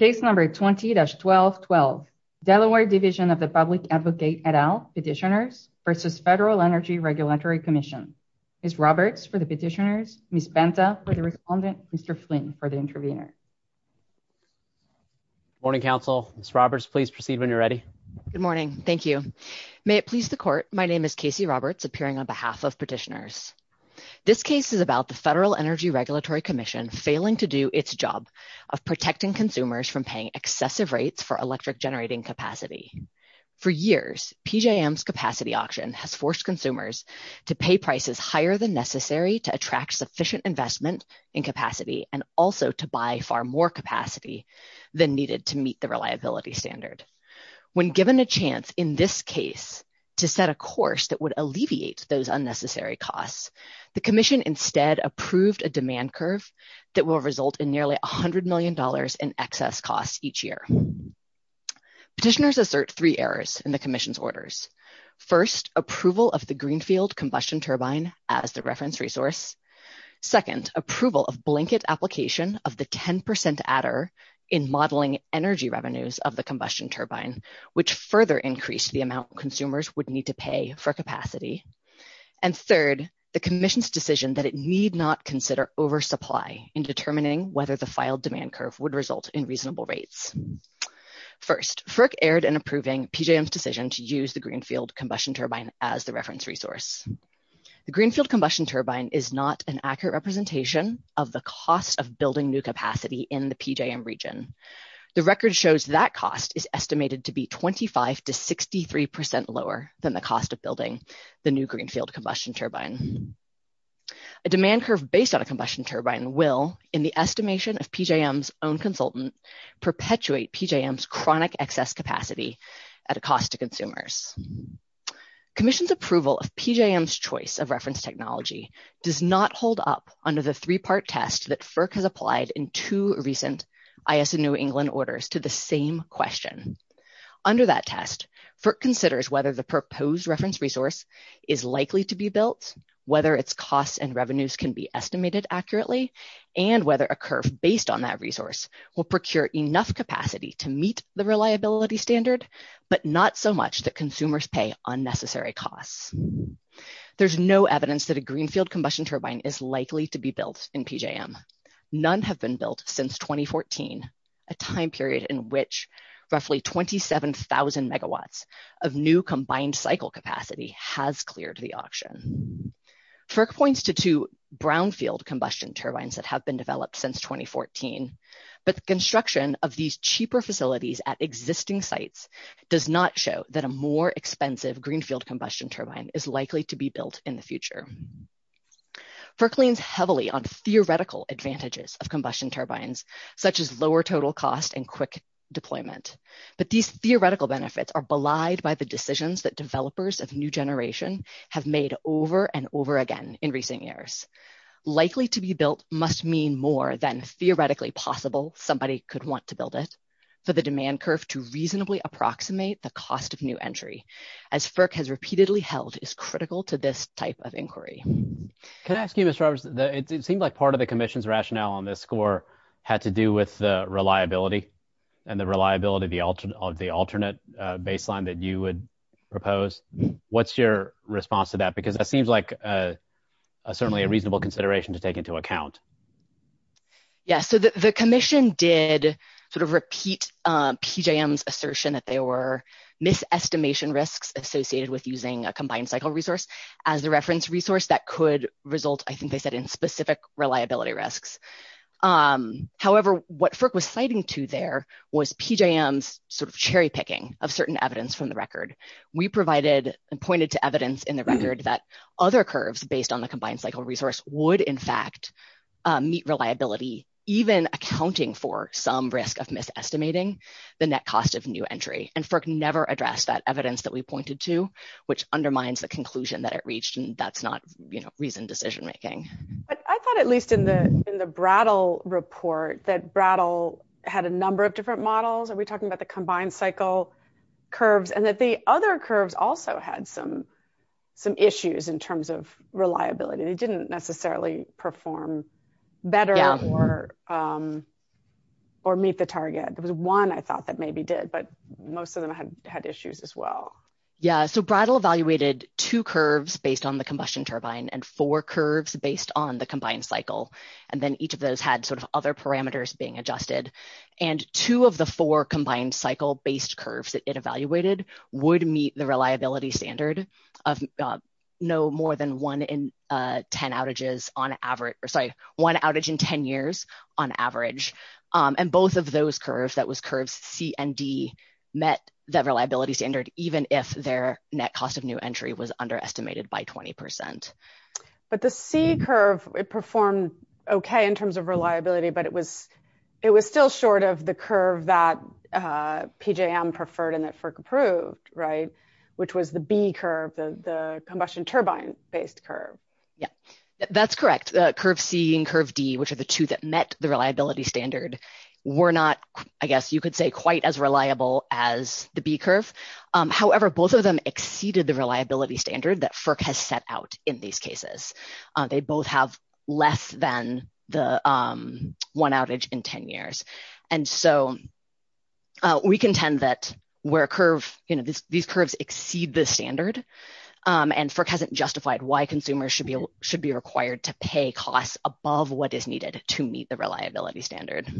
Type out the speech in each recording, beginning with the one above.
Case number 20-1212, Delaware Division of the Public Advocate et al, Petitioners v. Federal Energy Regulatory Commission. Ms. Roberts for the Petitioners, Ms. Banta for the Respondent, Mr. Flynn for the Intervener. Good morning, counsel. Ms. Roberts, please proceed when you're ready. Good morning. Thank you. May it please the court, my name is Casey Roberts, appearing on behalf of Petitioners. This case is about the Federal Energy Regulatory Commission failing to do its job of protecting consumers from paying excessive rates for electric generating capacity. For years, PJM's capacity auction has forced consumers to pay prices higher than necessary to attract sufficient investment in capacity and also to buy far more capacity than needed to meet the reliability standard. When given a chance in this case to set a course that would alleviate those unnecessary costs, the commission instead approved a demand curve that will result in nearly $100 million in excess costs each year. Petitioners assert three errors in the commission's orders. First, approval of the Greenfield Combustion Turbine as the reference resource. Second, approval of blanket application of the 10% adder in modeling energy revenues of the combustion turbine, which further increased the amount consumers would need to pay for capacity. And third, the commission's decision that it need not consider oversupply in determining whether the filed demand curve would result in reasonable rates. First, FERC erred in approving PJM's decision to use the Greenfield Combustion Turbine as the reference resource. The Greenfield Combustion Turbine is not an accurate representation of the cost of building new capacity in the PJM region. The record shows that cost is estimated to be 25 to 63 percent lower than the cost of building the new Greenfield Combustion Turbine. A demand curve based on a combustion turbine will, in the estimation of PJM's own consultant, perpetuate PJM's chronic excess capacity at a cost to consumers. Commission's approval of PJM's choice of reference technology does not hold up under the three-part test that FERC has applied in two recent IS&E England orders to the same question. Under that test, FERC considers whether the proposed reference resource is likely to be built, whether its costs and revenues can be estimated accurately, and whether a curve based on that resource will procure enough capacity to meet the reliability standard, but not so much that consumers pay unnecessary costs. There's no evidence that a Greenfield Combustion Turbine is likely to be built in PJM. None have been built since 2014, a time period in which roughly 27,000 megawatts of new combined cycle capacity has cleared the auction. FERC points to two Brownfield Combustion Turbines that have been developed since 2014, but the construction of these cheaper facilities at existing sites does not show that a more expensive Greenfield Combustion Turbine is likely to be built in the future. FERC leans heavily on theoretical advantages of combustion turbines, such as lower total cost and quick deployment, but these theoretical benefits are belied by the decisions that developers of new generation have made over and over again in recent years. Likely to be built must mean more than theoretically possible somebody could want to build it. For the demand curve to reasonably approximate the cost of new entry, as FERC has repeatedly held, is critical to this type of inquiry. Can I ask you, Ms. Roberts, it seems like part of the Commission's rationale on this score had to do with the reliability and the reliability of the alternate baseline that you would propose. What's your response to that? Because that seems like certainly a reasonable consideration to take into account. Yeah, so the Commission did sort of repeat PJM's assertion that there were misestimation risks associated with using a combined cycle resource as the reference resource that could result, I think they said, in specific reliability risks. However, what FERC was citing to there was PJM's sort of cherry picking of certain evidence from the record. We provided and pointed to evidence in the record that other curves based on the combined cycle resource would, in fact, meet reliability, even accounting for some risk of misestimating the net cost of new entry. And FERC never addressed that evidence that we pointed to, which undermines the conclusion that it reached. And that's not reasoned decision making. But I thought at least in the Brattle report that Brattle had a number of different models. Are we talking about the combined cycle curves? And that the other curves also had some issues in terms of reliability. They didn't necessarily perform better or meet the target. There was one I thought that maybe did, but most of them had issues as well. Yeah, so Brattle evaluated two curves based on the combustion turbine and four curves based on the combined cycle. And then each of those had sort of other parameters being adjusted. And two of the four combined cycle based curves that it evaluated would meet the reliability standard of no more than one in 10 outages on average, or sorry, one outage in 10 years on average. And both of those curves, that was curves C and D, met that reliability standard, even if their net cost of new entry was underestimated by 20 percent. But the C curve, it performed okay in terms of reliability, but it was still short of curve that PJM preferred and that FERC approved, which was the B curve, the combustion turbine based curve. Yeah, that's correct. Curve C and curve D, which are the two that met the reliability standard, were not, I guess you could say, quite as reliable as the B curve. However, both of them exceeded the reliability standard that FERC has set out in these cases. They both have less than the one outage in 10 years. And so we contend that where curve, you know, these curves exceed the standard. And FERC hasn't justified why consumers should be required to pay costs above what is needed to meet the reliability standard.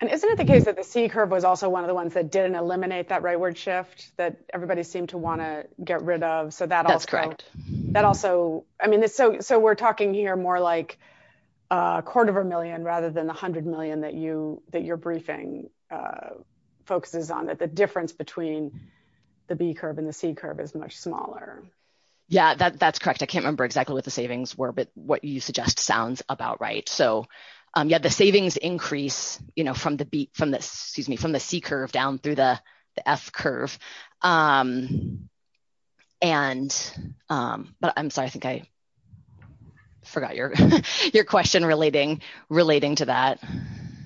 And isn't it the case that the C curve was also one of the ones that didn't eliminate that rightward shift that everybody seemed to want to get rid of? That's correct. That also, I mean, so we're talking here more like a quarter of a million rather than a hundred million that you that your briefing focuses on, that the difference between the B curve and the C curve is much smaller. Yeah, that's correct. I can't remember exactly what the savings were, but what you suggest sounds about right. So, yeah, the savings increase, you know, excuse me, from the C curve down through the F curve. But I'm sorry, I think I forgot your question relating to that.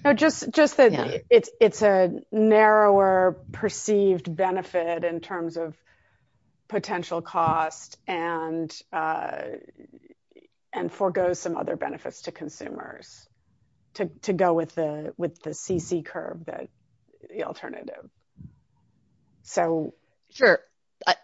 No, just that it's a narrower perceived benefit in terms of the C curve that the alternative. So, sure.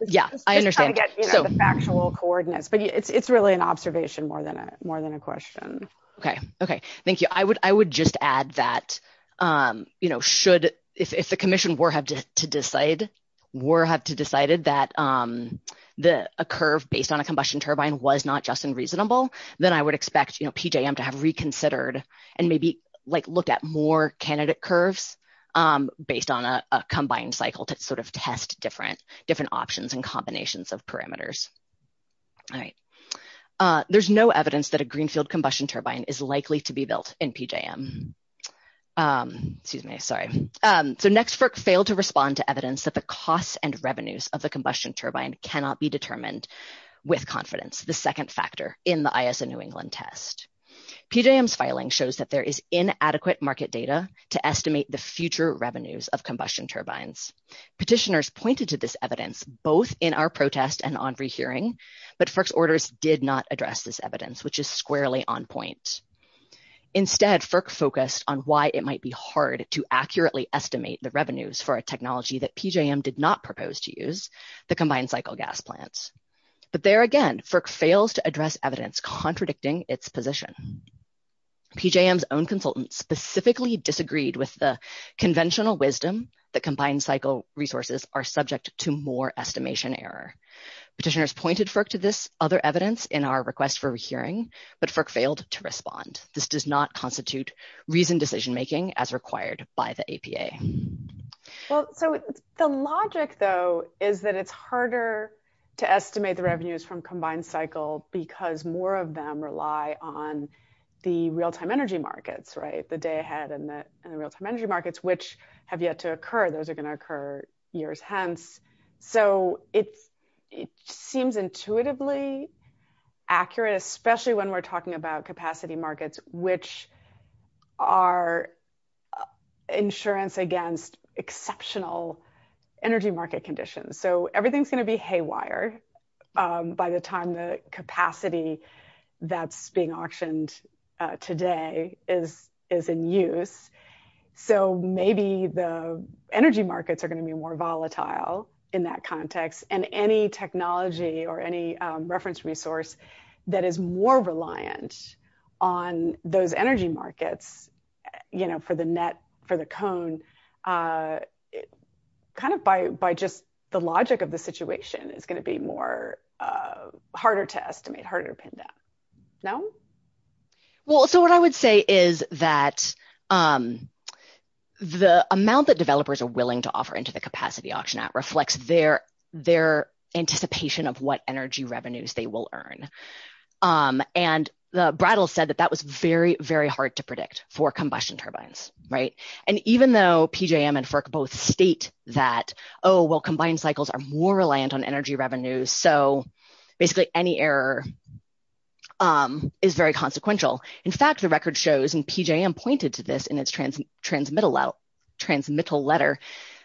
Yeah, I understand the factual coordinates, but it's really an observation more than more than a question. OK, OK, thank you. I would I would just add that, you know, should if the commission were have to decide, were have to decided that the curve based on a combustion turbine was not just unreasonable, then I would expect PJM to have reconsidered and maybe looked at more candidate curves based on a combined cycle to sort of test different options and combinations of parameters. All right. There's no evidence that a greenfield combustion turbine is likely to be built in PJM. Excuse me. Sorry. So NEXFRC failed to respond to evidence that the costs and revenues of the combustion turbine cannot be determined with confidence, the second factor in the ISA New England test. PJM's filing shows that there is inadequate market data to estimate the future revenues of combustion turbines. Petitioners pointed to this evidence both in our protest and on rehearing, but FERC's orders did not address this evidence, which is squarely on point. Instead, FERC focused on why it might be hard to accurately estimate the revenues for a technology that PJM did not propose to use, the combined cycle gas plant. But there again, FERC fails to address evidence contradicting its position. PJM's own consultants specifically disagreed with the conventional wisdom that combined cycle resources are subject to more estimation error. Petitioners pointed FERC to this other evidence in our request for hearing, but FERC failed to respond. This does not constitute reasoned decision making as required by the APA. Well, so the logic though, is that it's harder to estimate the revenues from combined cycle because more of them rely on the real-time energy markets, right? The day ahead and the real-time energy markets, which have yet to occur. Those are going to occur years hence. So it's, it seems intuitively accurate, especially when we're talking about capacity markets, which are insurance against exceptional energy market conditions. So everything's going to be haywire by the time the capacity that's being auctioned today is in use. So maybe the energy markets are going to be more volatile in that context. And any technology or any reference resource that is more reliant on those energy markets, you know, for the net, for the cone, kind of by, by just the logic of the situation is going to be more harder to estimate, harder to pin down. No? Well, so what I would say is that the amount that developers are willing to offer into the capacity auction app reflects their, their anticipation of what energy revenues they will earn. And the brattle said that that was very, very hard to predict for combustion turbines, right? And even though PJM and FERC both state that, oh, well, combined cycles are more reliant on energy revenues. So basically any error is very consequential. In fact, the record shows and PJM pointed to this in its transmittal letter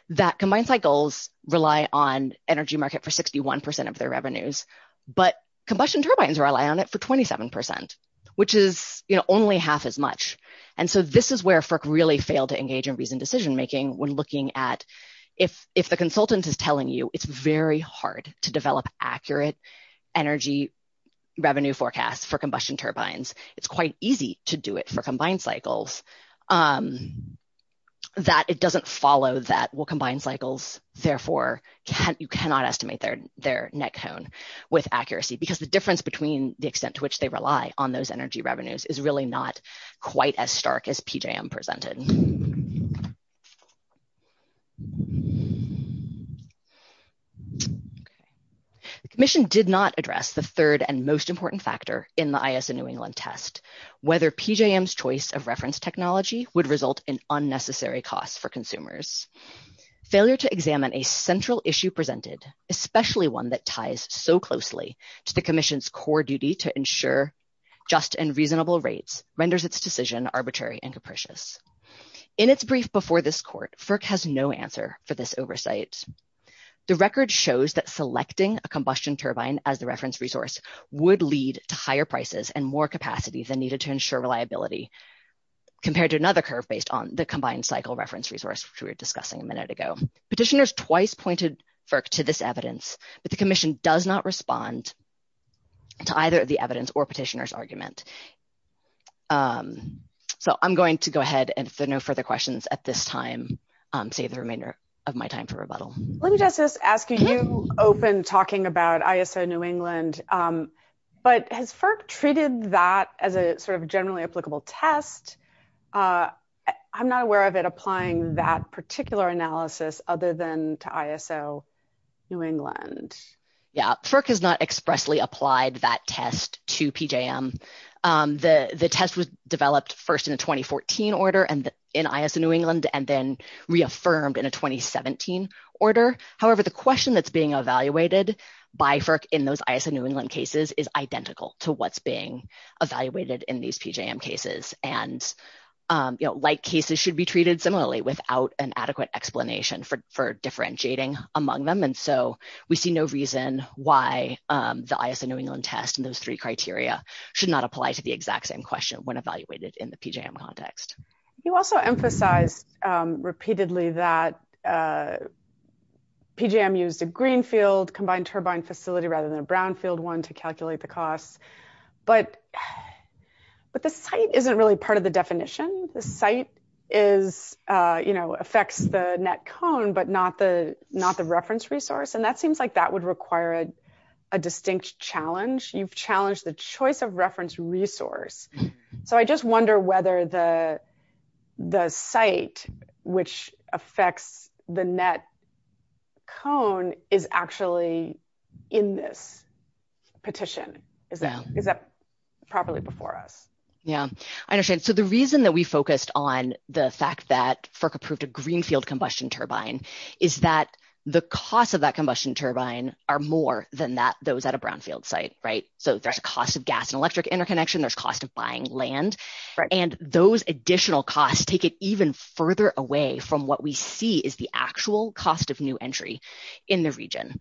that combined cycles rely on energy market for 61% of their revenues, but combustion turbines rely on it for 27%, which is, you know, only half as much. And so this is where FERC really failed to engage in reasoned decision making when looking at, if, if the consultant is telling you it's very hard to develop accurate energy revenue forecasts for combustion turbines, it's quite easy to do it for combined cycles that it doesn't follow that will combine cycles. Therefore you cannot estimate their, their net cone with accuracy because the difference between the extent to which they rely on those energy revenues is really not quite as stark as PJM presented. The commission did not address the third and most important factor in the IS in New England test, whether PJM's choice of reference technology would result in unnecessary costs for consumers. Failure to examine a central issue presented, especially one that ties so closely to the commission's core duty to ensure just and reasonable rates renders its decision arbitrary and capricious. In its brief before this court, FERC has no answer for this oversight. The record shows that selecting a combustion turbine as the reference resource would lead to higher prices and more capacity than needed to ensure reliability compared to another curve based on the combined cycle reference resource, which we were discussing a minute ago. Petitioners twice pointed FERC to this evidence, but the commission does not respond to either the evidence or petitioner's argument. So I'm going to go ahead and if there are no further questions at this time, save the remainder of my time for rebuttal. Let me just ask you, you opened talking about that as a sort of generally applicable test. I'm not aware of it applying that particular analysis other than to ISO New England. Yeah, FERC has not expressly applied that test to PJM. The test was developed first in a 2014 order and in ISO New England and then reaffirmed in a 2017 order. However, the question that's being evaluated by FERC in those ISO New England cases is identical to what's being evaluated in these PJM cases. And like cases should be treated similarly without an adequate explanation for differentiating among them. And so we see no reason why the ISO New England test and those three criteria should not apply to the exact same question when evaluated in the PJM context. You also emphasized repeatedly that PJM used a greenfield combined turbine facility rather than a brownfield one to calculate the cost. But the site isn't really part of the definition. The site affects the net cone, but not the reference resource. And that seems like that would require a distinct challenge. You've challenged the choice of reference resource. So I just wonder whether the site which affects the net cone is actually in this petition? Is that properly before us? Yeah, I understand. So the reason that we focused on the fact that FERC approved a greenfield combustion turbine is that the cost of that combustion turbine are more than that those at a brownfield site, right? So there's a cost of gas and electric interconnection, there's cost of buying land, right? And those additional costs take it even further away from what we see is the actual cost of new entry in the region,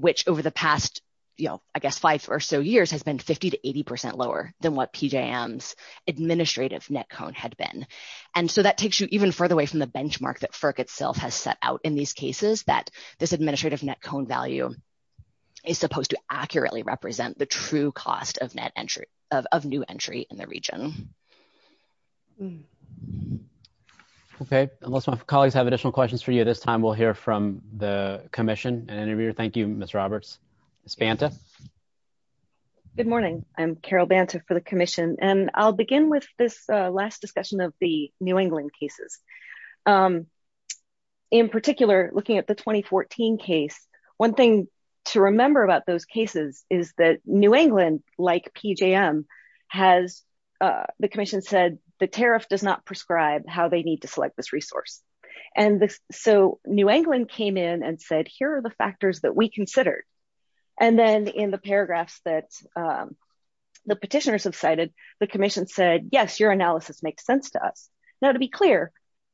which over the past, you know, I guess five or so years has been 50 to 80% lower than what PJM's administrative net cone had been. And so that takes you even further away from the benchmark that FERC itself has set out in these cases that this administrative net cone value is supposed to accurately represent the cost of net entry of new entry in the region. Okay, unless my colleagues have additional questions for you at this time, we'll hear from the commission and interviewer. Thank you, Ms. Roberts. Ms. Banta? Good morning. I'm Carol Banta for the commission. And I'll begin with this last discussion of the New England cases. In particular, looking at the 2014 case, one thing to remember about those cases is that New England, like PJM, has, the commission said, the tariff does not prescribe how they need to select this resource. And so New England came in and said, here are the factors that we considered. And then in the paragraphs that the petitioners have cited, the commission said, yes, your analysis makes sense to us. Now, to be clear,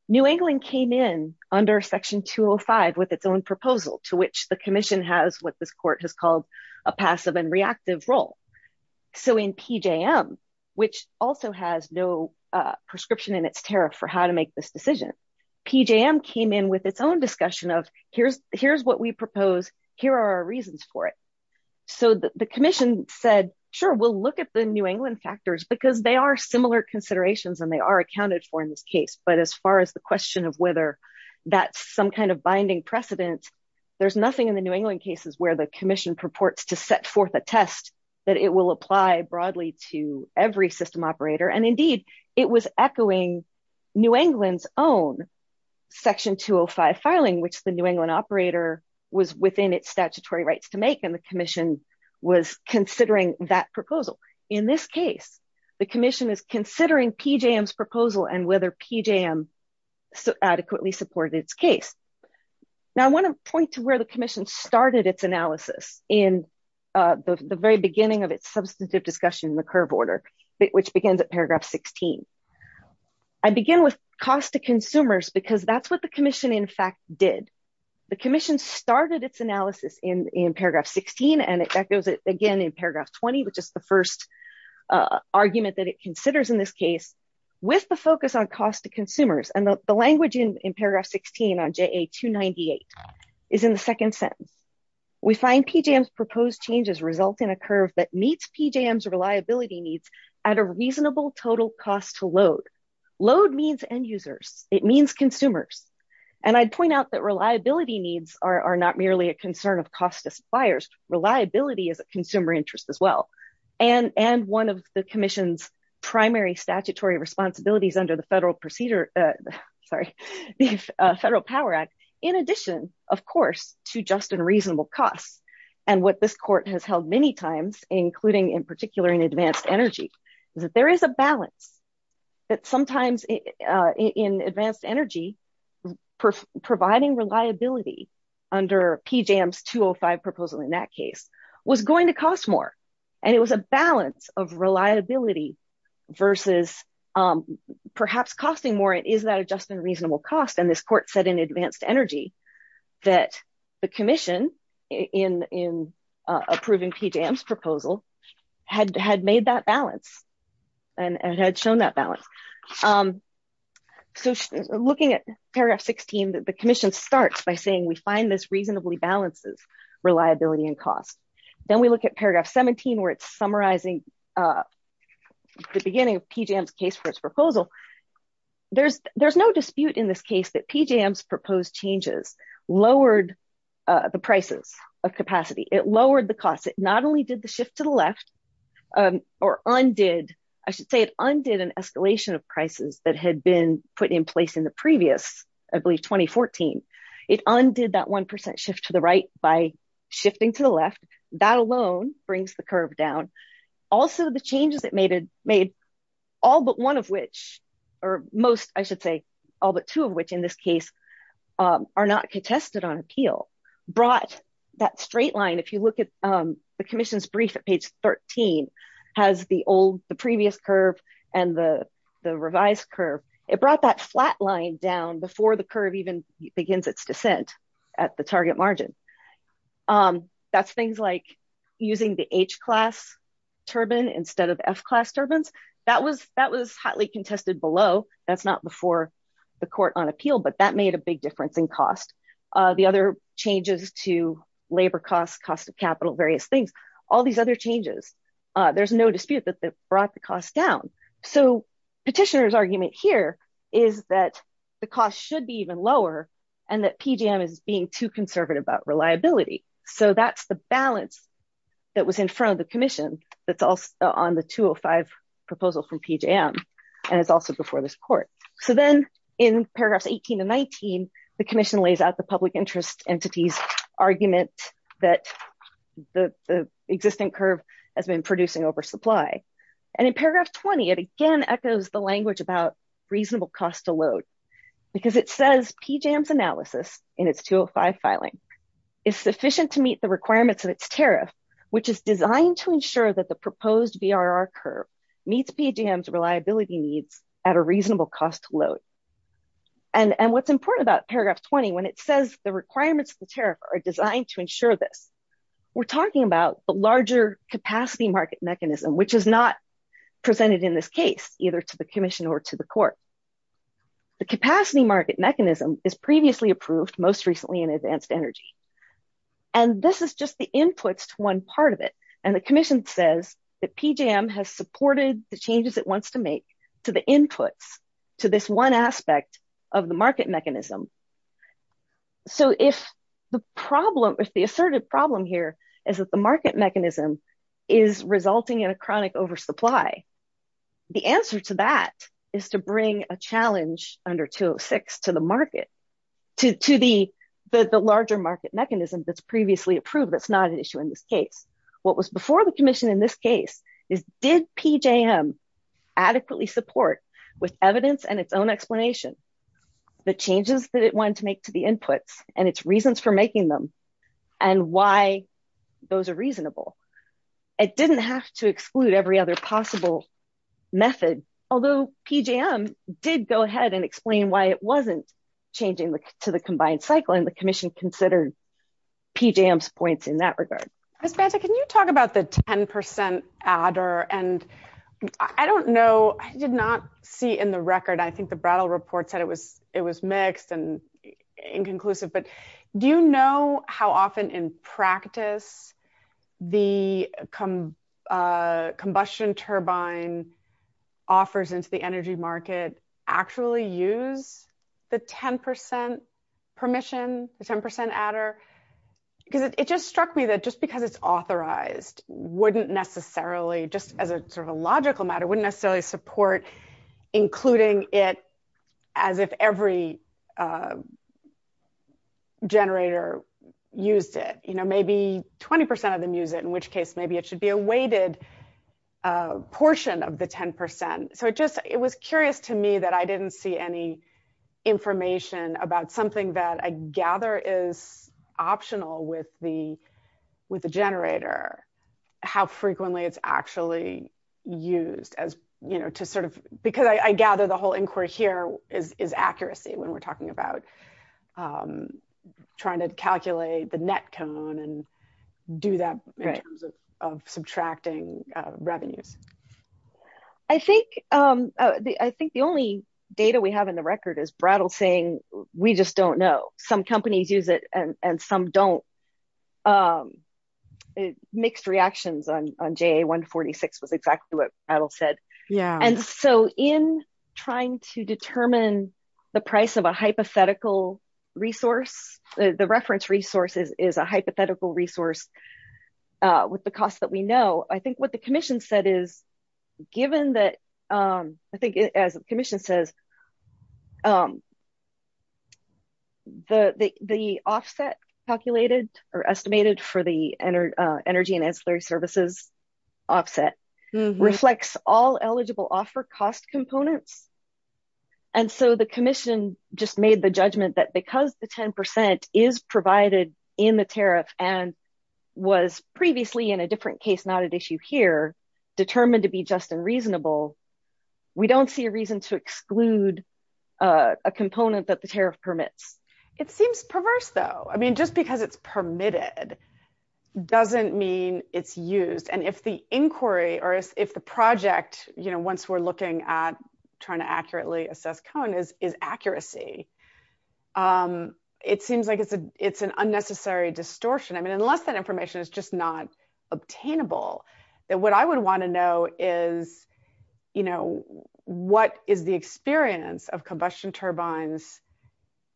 New England came in under section 205 with its own proposal to which the commission has what this court has called a passive and reactive role. So in PJM, which also has no prescription in its tariff for how to make this decision, PJM came in with its own discussion of, here's what we propose, here are our reasons for it. So the commission said, sure, we'll look at the New England factors because they are similar considerations and they are accounted for in this case. But as far as the question of whether that's some kind of binding precedent, there's nothing in the New England cases where the commission purports to set forth a test that it will apply broadly to every system operator. And indeed, it was echoing New England's own section 205 filing, which the New England operator was within its statutory rights to make. And the commission was considering that proposal. In this case, the commission is considering PJM's PJM adequately supported its case. Now I want to point to where the commission started its analysis in the very beginning of its substantive discussion in the curve order, which begins at paragraph 16. I begin with cost to consumers because that's what the commission in fact did. The commission started its analysis in paragraph 16 and it echoes it again in paragraph 20, which is the first argument that it considers in this case with the focus on cost to consumers and the language in paragraph 16 on JA 298 is in the second sentence. We find PJM's proposed changes result in a curve that meets PJM's reliability needs at a reasonable total cost to load. Load means end users. It means consumers. And I'd point out that reliability needs are not merely a concern of cost to suppliers. Reliability is a consumer interest as well. And one of the commission's primary statutory responsibilities under the Federal Procedure, sorry, the Federal Power Act, in addition, of course, to just and reasonable costs. And what this court has held many times, including in particular in advanced energy, is that there is a balance that sometimes in advanced energy providing reliability under PJM's 205 proposal in that case was going to cost more. And it was a balance of reliability versus perhaps costing more. Is that adjustment reasonable cost? And this court said in advanced energy that the commission in approving PJM's looking at paragraph 16 that the commission starts by saying we find this reasonably balances reliability and cost. Then we look at paragraph 17 where it's summarizing the beginning of PJM's case for its proposal. There's no dispute in this case that PJM's proposed changes lowered the prices of capacity. It lowered the cost. It not only did the shift to the left or undid, I should say it undid an escalation of prices that had been put in place the previous, I believe, 2014. It undid that 1% shift to the right by shifting to the left. That alone brings the curve down. Also, the changes it made, all but one of which, or most, I should say, all but two of which in this case are not contested on appeal, brought that straight line. If you look at the commission's brief at page 13 has the old, the previous curve and the revised curve, it brought that flat line down before the curve even begins its descent at the target margin. That's things like using the H-class turbine instead of F-class turbines. That was hotly contested below. That's not before the court on appeal, but that made a big difference in cost. The other changes to labor costs, cost of capital, various things, all these other changes, there's no dispute that they brought the cost down. Petitioner's argument here is that the cost should be even lower and that PJM is being too conservative about reliability. That's the balance that was in front of the commission that's also on the 205 proposal from PJM and it's also before this court. Then in paragraphs 18 and 19, the commission lays out the public interest entity's argument that the existing curve has been producing over supply. In paragraph 20, it again echoes the language about reasonable cost to load because it says PJM's analysis in its 205 filing is sufficient to meet the requirements of its tariff, which is designed to ensure that the proposed VRR curve meets PJM's reliability needs at a reasonable cost to load. What's important about paragraph 20, when it says the requirements of the tariff are designed to ensure this, we're talking about a larger capacity market mechanism, which is not presented in this case, either to the commission or to the court. The capacity market mechanism is previously approved, most recently in advanced energy. This is just the inputs to one part of it and the commission says that PJM has supported the inputs to this one aspect of the market mechanism. If the asserted problem here is that the market mechanism is resulting in a chronic oversupply, the answer to that is to bring a challenge under 206 to the larger market mechanism that's previously approved that's not an issue in this case. What was before the commission in this case is did PJM adequately support with evidence and its own explanation the changes that it wanted to make to the inputs and its reasons for making them and why those are reasonable. It didn't have to exclude every other possible method, although PJM did go ahead and explain why it wasn't changing to the combined cycle and the commission considered PJM's points in that regard. Ms. Banta, can you talk about the in the record, I think the Brattle report said it was mixed and inconclusive, but do you know how often in practice the combustion turbine offers into the energy market actually use the 10% permission, the 10% adder? Because it just struck me that just because it's authorized wouldn't necessarily, just as a sort of a logical matter, wouldn't necessarily support including it as if every generator used it. Maybe 20% of them use it, in which case maybe it should be a weighted portion of the 10%. It was curious to me that I didn't see any information about something that I gather is optional with the generator, how frequently it's actually used as to sort of, because I gather the whole inquiry here is accuracy when we're talking about trying to calculate the net cone and do that in terms of subtracting revenues. I think the only data we have in the record is Brattle saying we just don't know. Some companies use it and some don't. Mixed reactions on JA146 was exactly what Brattle said. And so in trying to determine the price of a hypothetical resource, the reference resource is a hypothetical resource with the cost that we know. I think what the commission said is given that, I think as the commission says, the offset calculated or estimated for the energy and ancillary services offset reflects all eligible offer cost components. And so the commission just made the judgment that because the 10% is provided in the tariff and was previously in a different case not at issue here determined to be just and reasonable, we don't see a reason to exclude a component that the tariff permits. It seems perverse though. I mean, just because it's permitted doesn't mean it's used. And if the inquiry or if the project, once we're looking at trying to accurately assess Cohen is accuracy, it seems like it's an unnecessary distortion. I mean, unless that information is just not obtainable, what I would want to know is what is the experience of combustion turbines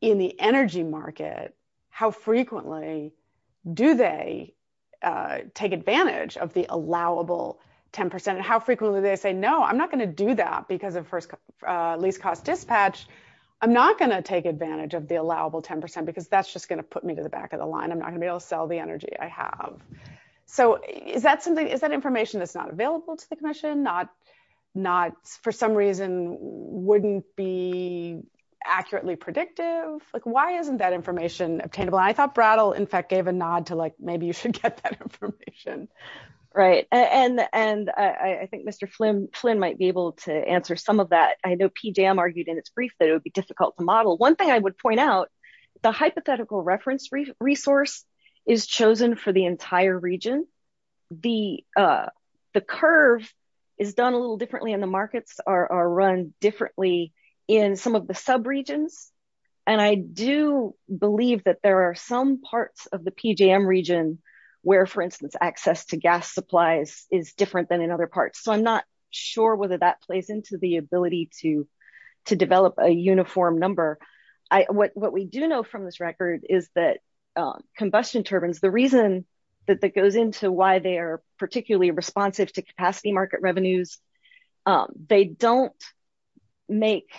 in the energy market? How frequently do they take advantage of the allowable 10% and how I'm not going to take advantage of the allowable 10% because that's just going to put me to the back of the line. I'm not going to be able to sell the energy I have. So is that information that's not available to the commission for some reason wouldn't be accurately predictive? Like, why isn't that information obtainable? I thought Brattle in fact gave a nod to like, maybe you should get that information. Right. And I think Mr. Flynn might be able to answer some of that. I know PJM argued in its brief that it would be difficult to model. One thing I would point out, the hypothetical reference resource is chosen for the entire region. The curve is done a little differently and the markets are run differently in some of the sub regions. And I do believe that there are some parts of the PJM region where for instance, access to gas supplies is different than other parts. So I'm not sure whether that plays into the ability to develop a uniform number. What we do know from this record is that combustion turbines, the reason that that goes into why they're particularly responsive to capacity market revenues, they don't make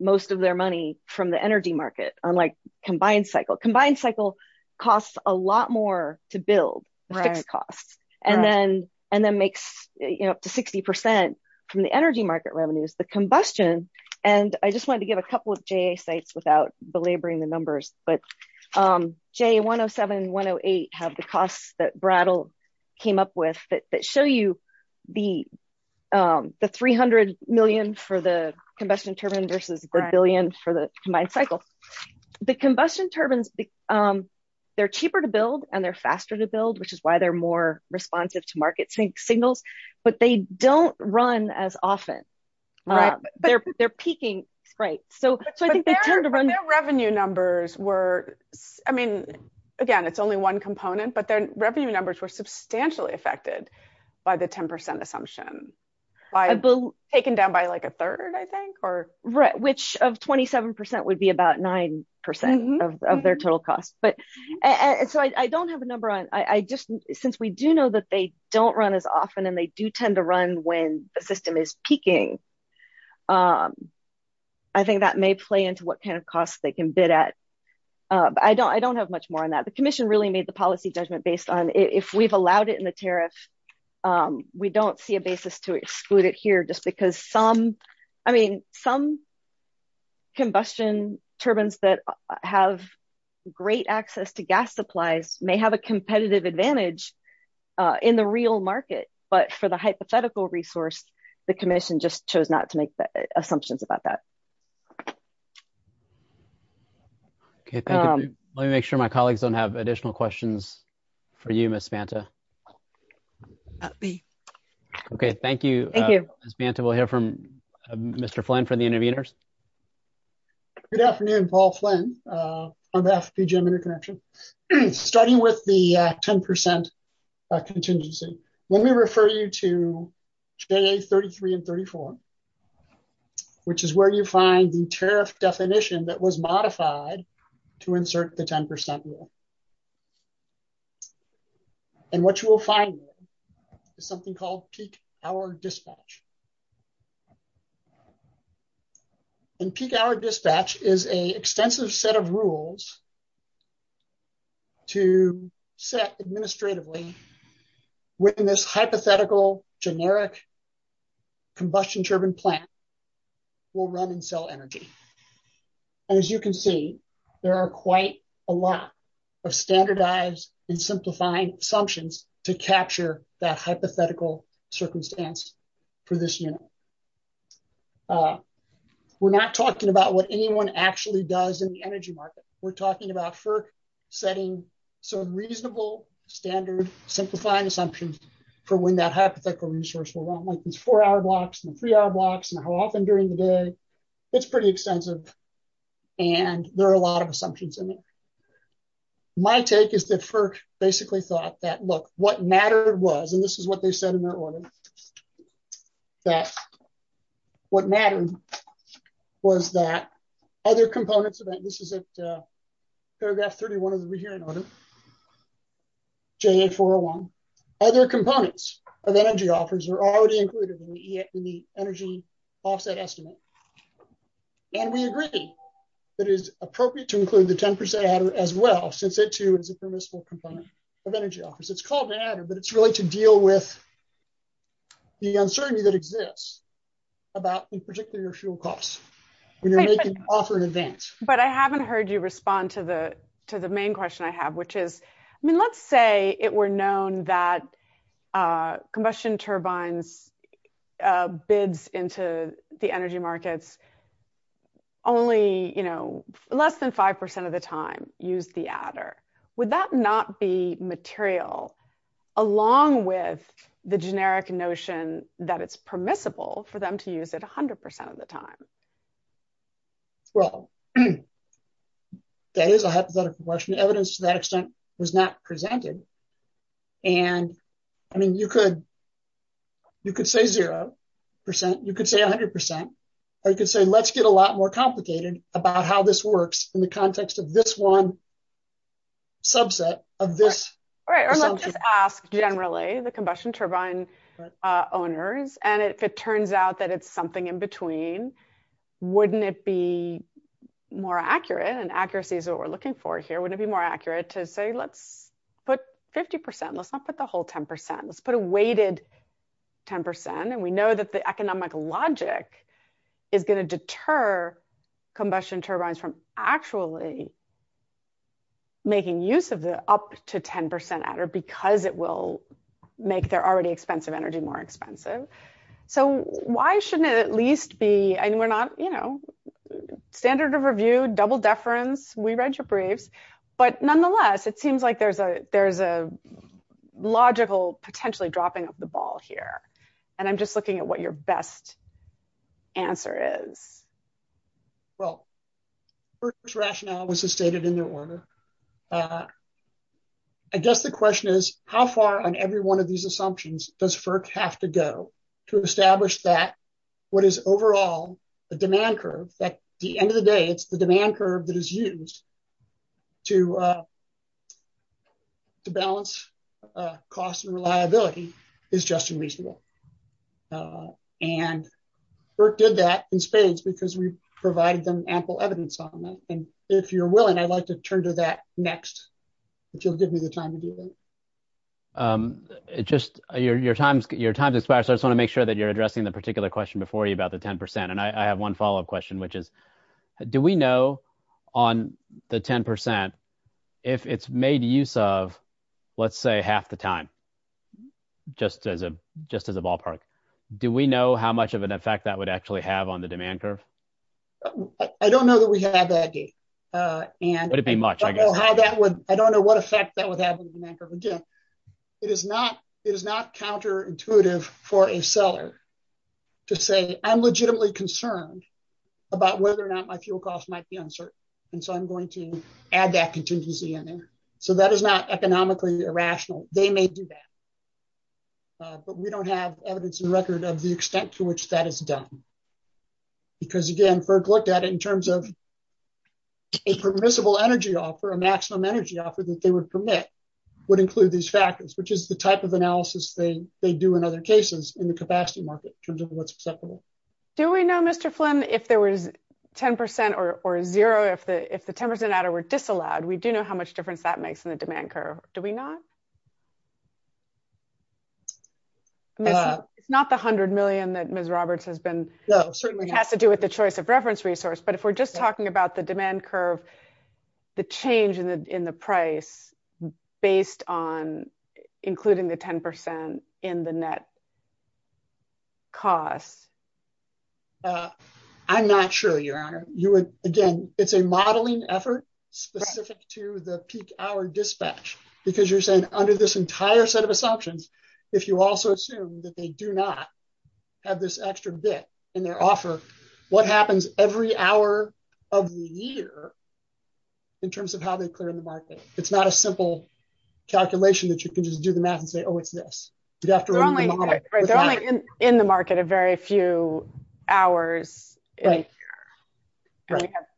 most of their money from the energy market, unlike combined cycle. Combined cycle costs a lot more to build the fixed costs and then makes up to 60% from the energy market revenues. The combustion, and I just wanted to give a couple of JA sites without belaboring the numbers, but J107, 108 have the costs that Brattle came up with that show you the 300 million for the combustion turbine versus the billion for the combined cycle. The combustion turbines, they're cheaper to build and they're faster to build, which is why they're more responsive to market signals, but they don't run as often. They're peaking. So I think they tend to run- But their revenue numbers were, I mean, again, it's only one component, but their revenue numbers were substantially affected by the 10% assumption, taken down by like a third, I think, or- Which of 27% would be about 9% of their total costs. So I don't have a number on, since we do know that they don't run as often and they do tend to run when the system is peaking, I think that may play into what kind of costs they can bid at. I don't have much more on that. The commission really made the policy judgment based on if we've allowed it in the tariff, we don't see a basis to exclude it here just because some, I mean, some combustion turbines that have great access to gas supplies may have a competitive advantage in the real market, but for the hypothetical resource, the commission just chose not to make the assumptions about that. Okay, thank you. Let me make sure my colleagues don't have additional questions for you, Ms. Banta. Okay, thank you, Ms. Banta. We'll hear from Mr. Flynn for the intervenors. Good afternoon, Paul Flynn, FGM Interconnection. Starting with the 10% contingency, when we refer you to J33 and 34, which is where you find the tariff definition that was modified to insert the 10% rule. And what you will find is something called peak hour dispatch. And peak hour dispatch is an extensive set of rules to set administratively when this hypothetical generic combustion turbine plant will run and as you can see, there are quite a lot of standardized and simplifying assumptions to capture that hypothetical circumstance for this unit. We're not talking about what anyone actually does in the energy market. We're talking about setting some reasonable standard simplifying assumptions for when that hypothetical resource will run, like these four hour blocks and three hour blocks and how often during the day. It's pretty extensive and there are a lot of assumptions in it. My take is that FERC basically thought that, look, what mattered was, and this is what they said in their order, that what mattered was that other components of that, this is at paragraph 31 of the rehearing order, JA401, other components of energy offers are already included in the energy offset estimate. And we agree that it is appropriate to include the 10% adder as well, since it too is a permissible component of energy offers. It's called an adder, but it's really to deal with the uncertainty that exists about in particular fuel costs when you're making an offer in advance. But I haven't heard you respond to the main question I have, which is, I mean, let's say it were known that combustion turbines bids into the energy markets only less than 5% of the time use the adder. Would that not be material along with the generic notion that it's permissible for them to use it 100% of the time? Well, that is a hypothetical question. Evidence to that extent was not presented. And I mean, you could say zero percent, you could say 100%, or you could say, let's get a lot more complicated about how this works in the context of this one subset of this assumption. Right, or let's just ask generally, the combustion turbine owners, and if it turns out that it's something in between, wouldn't it be more accurate and accuracy is what we're looking for here, wouldn't it be more accurate to say, let's put 50%, let's not put the whole 10%, let's put a weighted 10%. And we know that the economic logic is going to deter combustion turbines from actually making use of the up to 10% adder, because it will make their already expensive energy more expensive. So why shouldn't it at least be, we're not, you know, standard of review, double deference, we read your briefs. But nonetheless, it seems like there's a logical potentially dropping of the ball here. And I'm just looking at what your best answer is. Well, first rationale was stated in the order. I guess the question is, how far on every one of these assumptions does FERC have to go to establish that what is overall, the demand curve that the end of the day, it's the demand curve that is used to balance cost and reliability is just unreasonable. And FERC did that in spades, because we provided them ample evidence on that. And if you're willing, I'd like to turn to that next, if you'll give me the time to do that. Um, it just your time, your time to spare. So I just want to make sure that you're addressing the particular question before you about the 10%. And I have one follow up question, which is, do we know on the 10%, if it's made use of, let's say half the time, just as a just as a ballpark, do we know how much of an effect that would actually have on the demand curve? I don't know that we have that day. And it'd be much I don't know how that would, it is not, it is not counterintuitive for a seller to say, I'm legitimately concerned about whether or not my fuel cost might be uncertain. And so I'm going to add that contingency in there. So that is not economically irrational, they may do that. But we don't have evidence in record of the extent to which that is done. Because again, FERC looked at it in terms of a permissible energy offer a maximum energy that they would permit would include these factors, which is the type of analysis they they do in other cases in the capacity market in terms of what's acceptable. Do we know Mr. Flynn, if there was 10% or zero, if the if the 10% were disallowed, we do know how much difference that makes in the demand curve, do we not? It's not the 100 million that Ms. Roberts has been certainly has to do with the choice of price based on including the 10% in the net cost. I'm not sure your honor, you would, again, it's a modeling effort specific to the peak hour dispatch, because you're saying under this entire set of assumptions, if you also assume that they do not have this extra bit in their offer, what happens every hour of the year in terms of how it's not a simple calculation that you can just do the math and say, oh, it's this. They're only in the market a very few hours.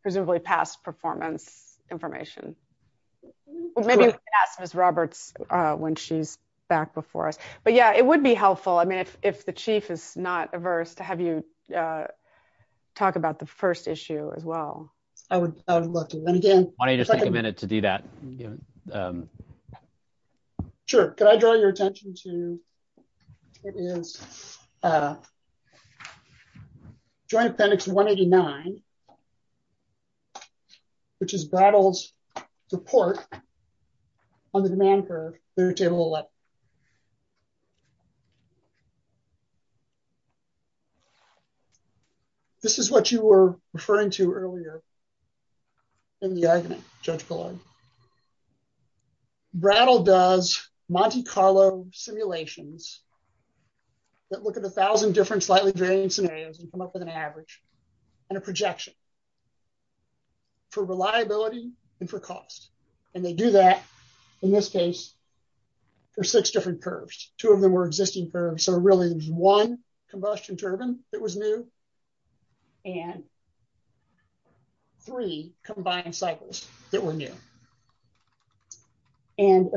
Presumably past performance information. Maybe ask Ms. Roberts when she's back before us. But yeah, it would be helpful. I mean, if the chief is not averse to have you talk about the first issue as well. I would love to. And again- Why don't you just take a minute to do that? Sure. Could I draw your attention to, it is Joint Appendix 189, which is battles to port on the demand curve. Table 11. This is what you were referring to earlier in the argument, Judge Collard. Brattle does Monte Carlo simulations that look at a thousand different slightly varying scenarios and come up with an average and a projection for reliability and for cost. And they do that in this case for six different curves. Two of them were existing curves. So really there's one combustion turbine that was new and three combined cycles that were new. And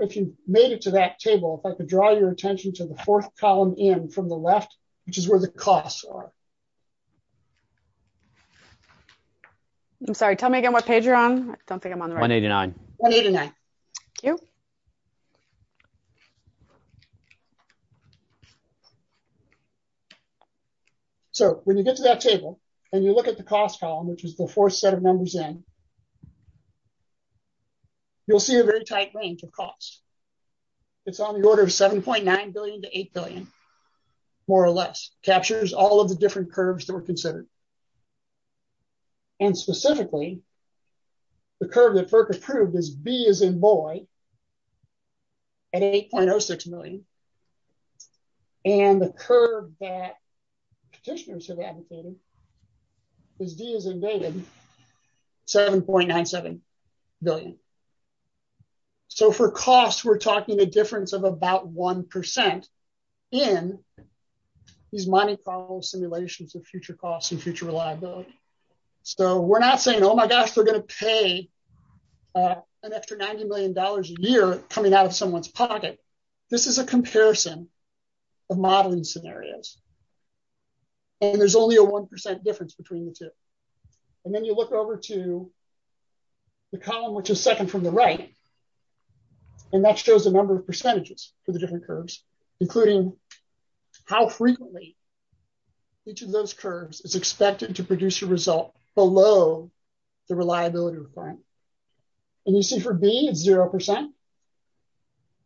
if you made it to that table, if I could draw your attention to the fourth column in from the left, which is where the costs are. I'm sorry, tell me again what page you're on. I don't think I'm on the right- 189. 189. So when you get to that table and you look at the cost column, which is the fourth set of numbers in, you'll see a very tight range of costs. It's on the order of 7.9 billion to 8 billion, more or less, captures all of the different curves that were considered. And specifically, the curve that FERC approved is B as in boy at 8.06 million. And the curve that petitioners have advocated is D as in David, 7.97 billion. So for cost, we're talking a difference of about 1% in these Monte Carlo simulations of future costs and future reliability. So we're not saying, oh my gosh, they're going to pay an extra $90 million a year coming out of someone's pocket. This is a comparison of modeling scenarios. And there's only a 1% difference between the two. And then you look over to the column, which is second from the right. And that shows the number of percentages for the different curves, including how frequently each of those curves is expected to produce a result below the reliability requirement. And you see for B, it's 0%.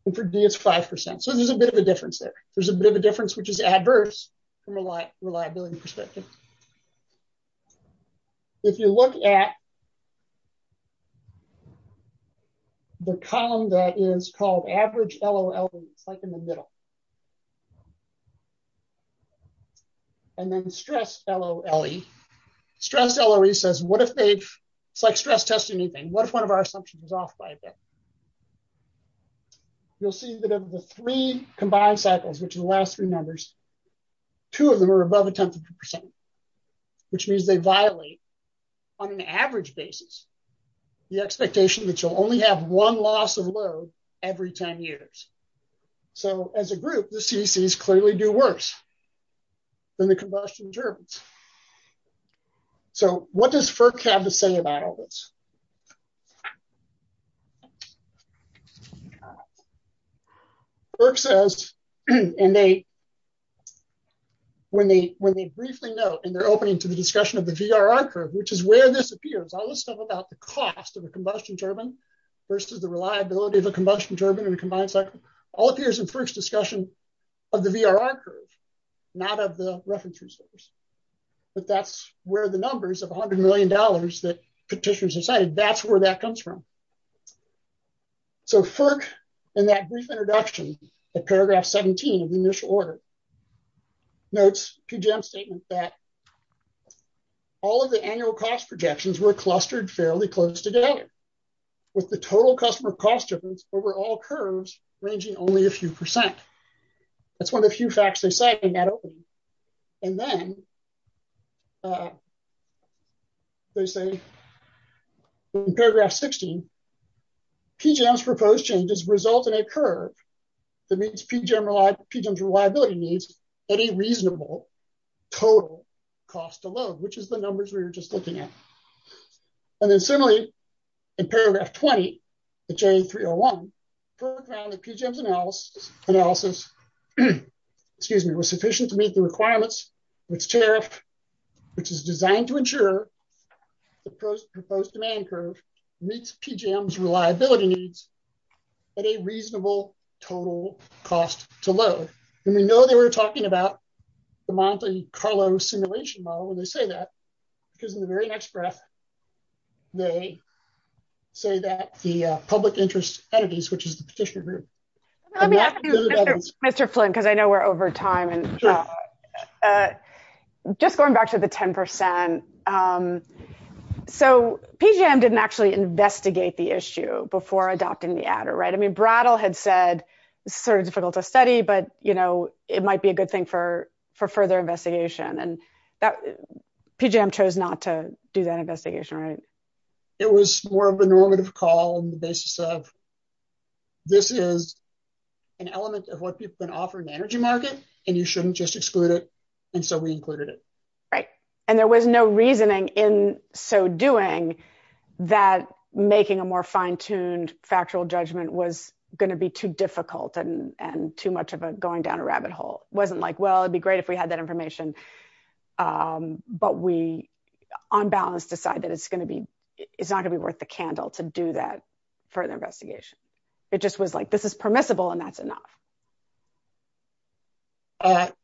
And for D, it's 5%. So there's a bit of a difference there. There's a bit of a difference, which is adverse from a reliability perspective. If you look at the column that is called average LOL, it's like in the middle. And then stress LOE. Stress LOE says, it's like stress testing anything. What if one of our assumptions is off by a bit? You'll see that of the three combined cycles, which are the last three numbers, two of them are above a tenth of a percent, which means they violate on an average basis, the expectation that you'll only have one loss of load every 10 years. So as a group, the CECs clearly do worse than the combustion turbines. So what does FERC have to say about all this? FERC says, and they, when they briefly note, and they're opening to the discussion of the VRR curve, which is where this appears, all this stuff about the cost of a combustion turbine versus the reliability of a combustion turbine and a combined cycle, all appears in FERC's discussion of the VRR curve, not of the reference resources. But that's where the numbers of $100 million that petitioners have cited, that's where that comes from. So FERC, in that brief introduction at paragraph 17 of the initial order, notes QGEM's statement that all of the annual cost projections were clustered fairly close together, with the total customer cost difference over all percent. That's one of the few facts they cite in that opening. And then they say in paragraph 16, QGEM's proposed changes result in a curve that means QGEM's reliability needs any reasonable total cost of load, which is the numbers we were just looking at. And then similarly, in paragraph 20 of J301, QGEM's analysis, excuse me, was sufficient to meet the requirements of its tariff, which is designed to ensure the proposed demand curve meets QGEM's reliability needs at a reasonable total cost to load. And we know they were talking about the Monte Carlo simulation model when they say that, because in the very next breath, they say that the public interest entities, which is the petitioner group. Let me ask you, Mr. Flint, because I know we're over time, and just going back to the 10%. So PGM didn't actually investigate the issue before adopting the adder, right? I mean, Brattle had said, it's sort of difficult to study, but you know, it might be a And that PGM chose not to do that investigation, right? It was more of a normative call on the basis of this is an element of what people can offer in the energy market, and you shouldn't just exclude it. And so we included it. Right. And there was no reasoning in so doing that making a more fine-tuned factual judgment was going to be too difficult and too much of a going down a rabbit hole. It wasn't like, well, it'd be great if we had that information. But we, on balance, decided it's going to be, it's not gonna be worth the candle to do that further investigation. It just was like, this is permissible, and that's enough.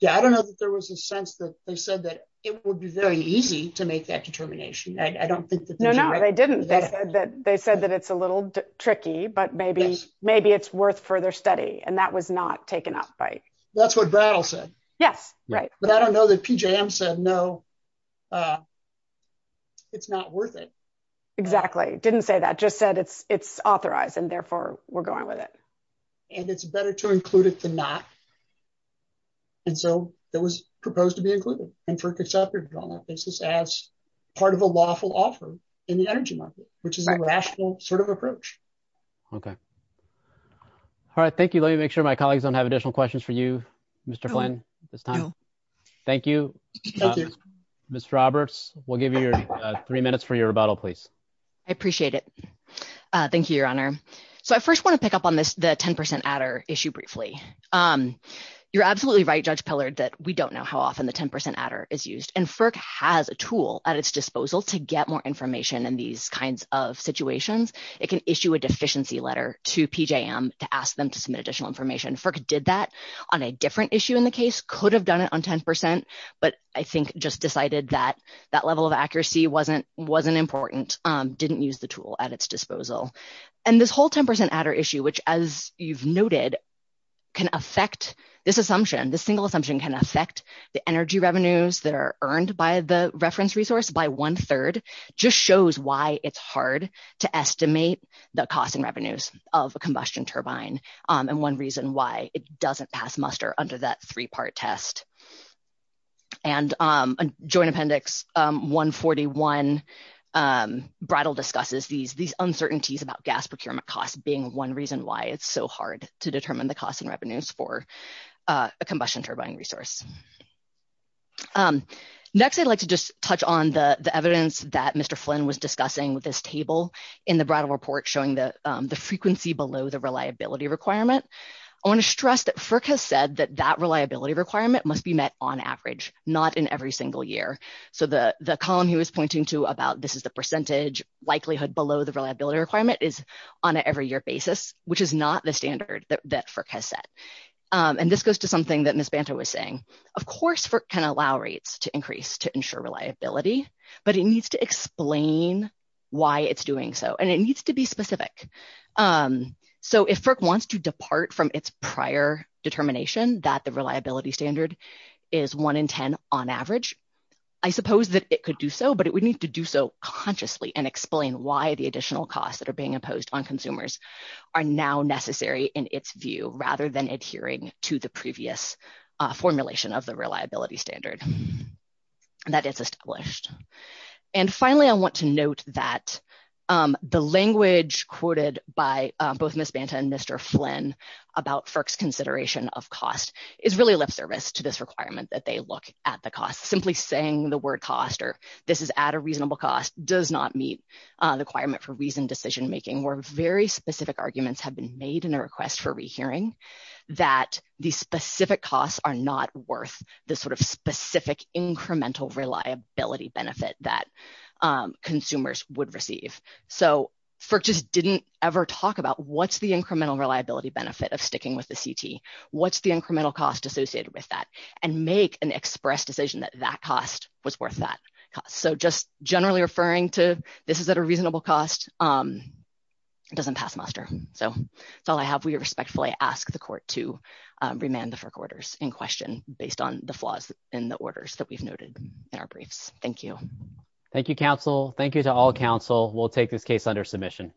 Yeah, I don't know that there was a sense that they said that it would be very easy to make that determination. I don't think that they didn't, they said that they said that it's a little tricky, but maybe, maybe it's worth further study. And that was not taken up by That's what Brattle said. Yes, right. But I don't know that PJM said, no, it's not worth it. Exactly. Didn't say that, just said it's, it's authorized and therefore we're going with it. And it's better to include it than not. And so that was proposed to be included and for conceptually on that basis as part of a lawful offer in the energy market, which is a rational sort of approach. Okay. All right. Thank you. Let me make sure my colleagues don't have additional questions for you, Mr. Flynn, this time. Thank you, Mr. Roberts. We'll give you your three minutes for your rebuttal, please. I appreciate it. Thank you, Your Honor. So I first want to pick up on this, the 10% adder issue briefly. You're absolutely right, Judge Pillard, that we don't know how often the 10% adder is used and FERC has a tool at its disposal to get more information in these kinds of situations. It can issue a deficiency letter to PJM to ask them to submit additional information. FERC did that on a different issue in the case, could have done it on 10%, but I think just decided that that level of accuracy wasn't, wasn't important, didn't use the tool at its disposal. And this whole 10% adder issue, which as you've noted, can affect, this assumption, this single assumption can affect the energy revenues that are earned by the reference resource by one third, just shows why it's hard to estimate the cost and revenues of a combustion turbine. And one reason why it doesn't pass muster under that three-part test. And joint appendix 141 bridal discusses these, these uncertainties about gas procurement costs being one reason why it's so hard to determine the costs and revenues for a combustion turbine resource. Next, I'd like to just touch on the evidence that Mr. Flynn was showing the frequency below the reliability requirement. I want to stress that FERC has said that that reliability requirement must be met on average, not in every single year. So the column he was pointing to about this is the percentage likelihood below the reliability requirement is on an every year basis, which is not the standard that FERC has set. And this goes to something that Ms. Banta was saying. Of course, FERC can allow rates to increase to ensure reliability, but it needs to explain why it's doing so. And it needs to be specific. So if FERC wants to depart from its prior determination that the reliability standard is one in 10 on average, I suppose that it could do so, but it would need to do so consciously and explain why the additional costs that are being imposed on consumers are now necessary in its view, rather than adhering to the previous formulation of the reliability standard. And that is established. And finally, I want to note that the language quoted by both Ms. Banta and Mr. Flynn about FERC's consideration of cost is really lip service to this requirement that they look at the cost. Simply saying the word cost, or this is at a reasonable cost, does not meet the requirement for reasoned decision making, where very specific arguments have been made in a incremental reliability benefit that consumers would receive. So FERC just didn't ever talk about what's the incremental reliability benefit of sticking with the CT? What's the incremental cost associated with that? And make an express decision that that cost was worth that cost. So just generally referring to this is at a reasonable cost doesn't pass muster. So that's all I have. We respectfully ask the court to remand the FERC orders in question based on the orders that we've noted in our briefs. Thank you. Thank you, counsel. Thank you to all counsel. We'll take this case under submission.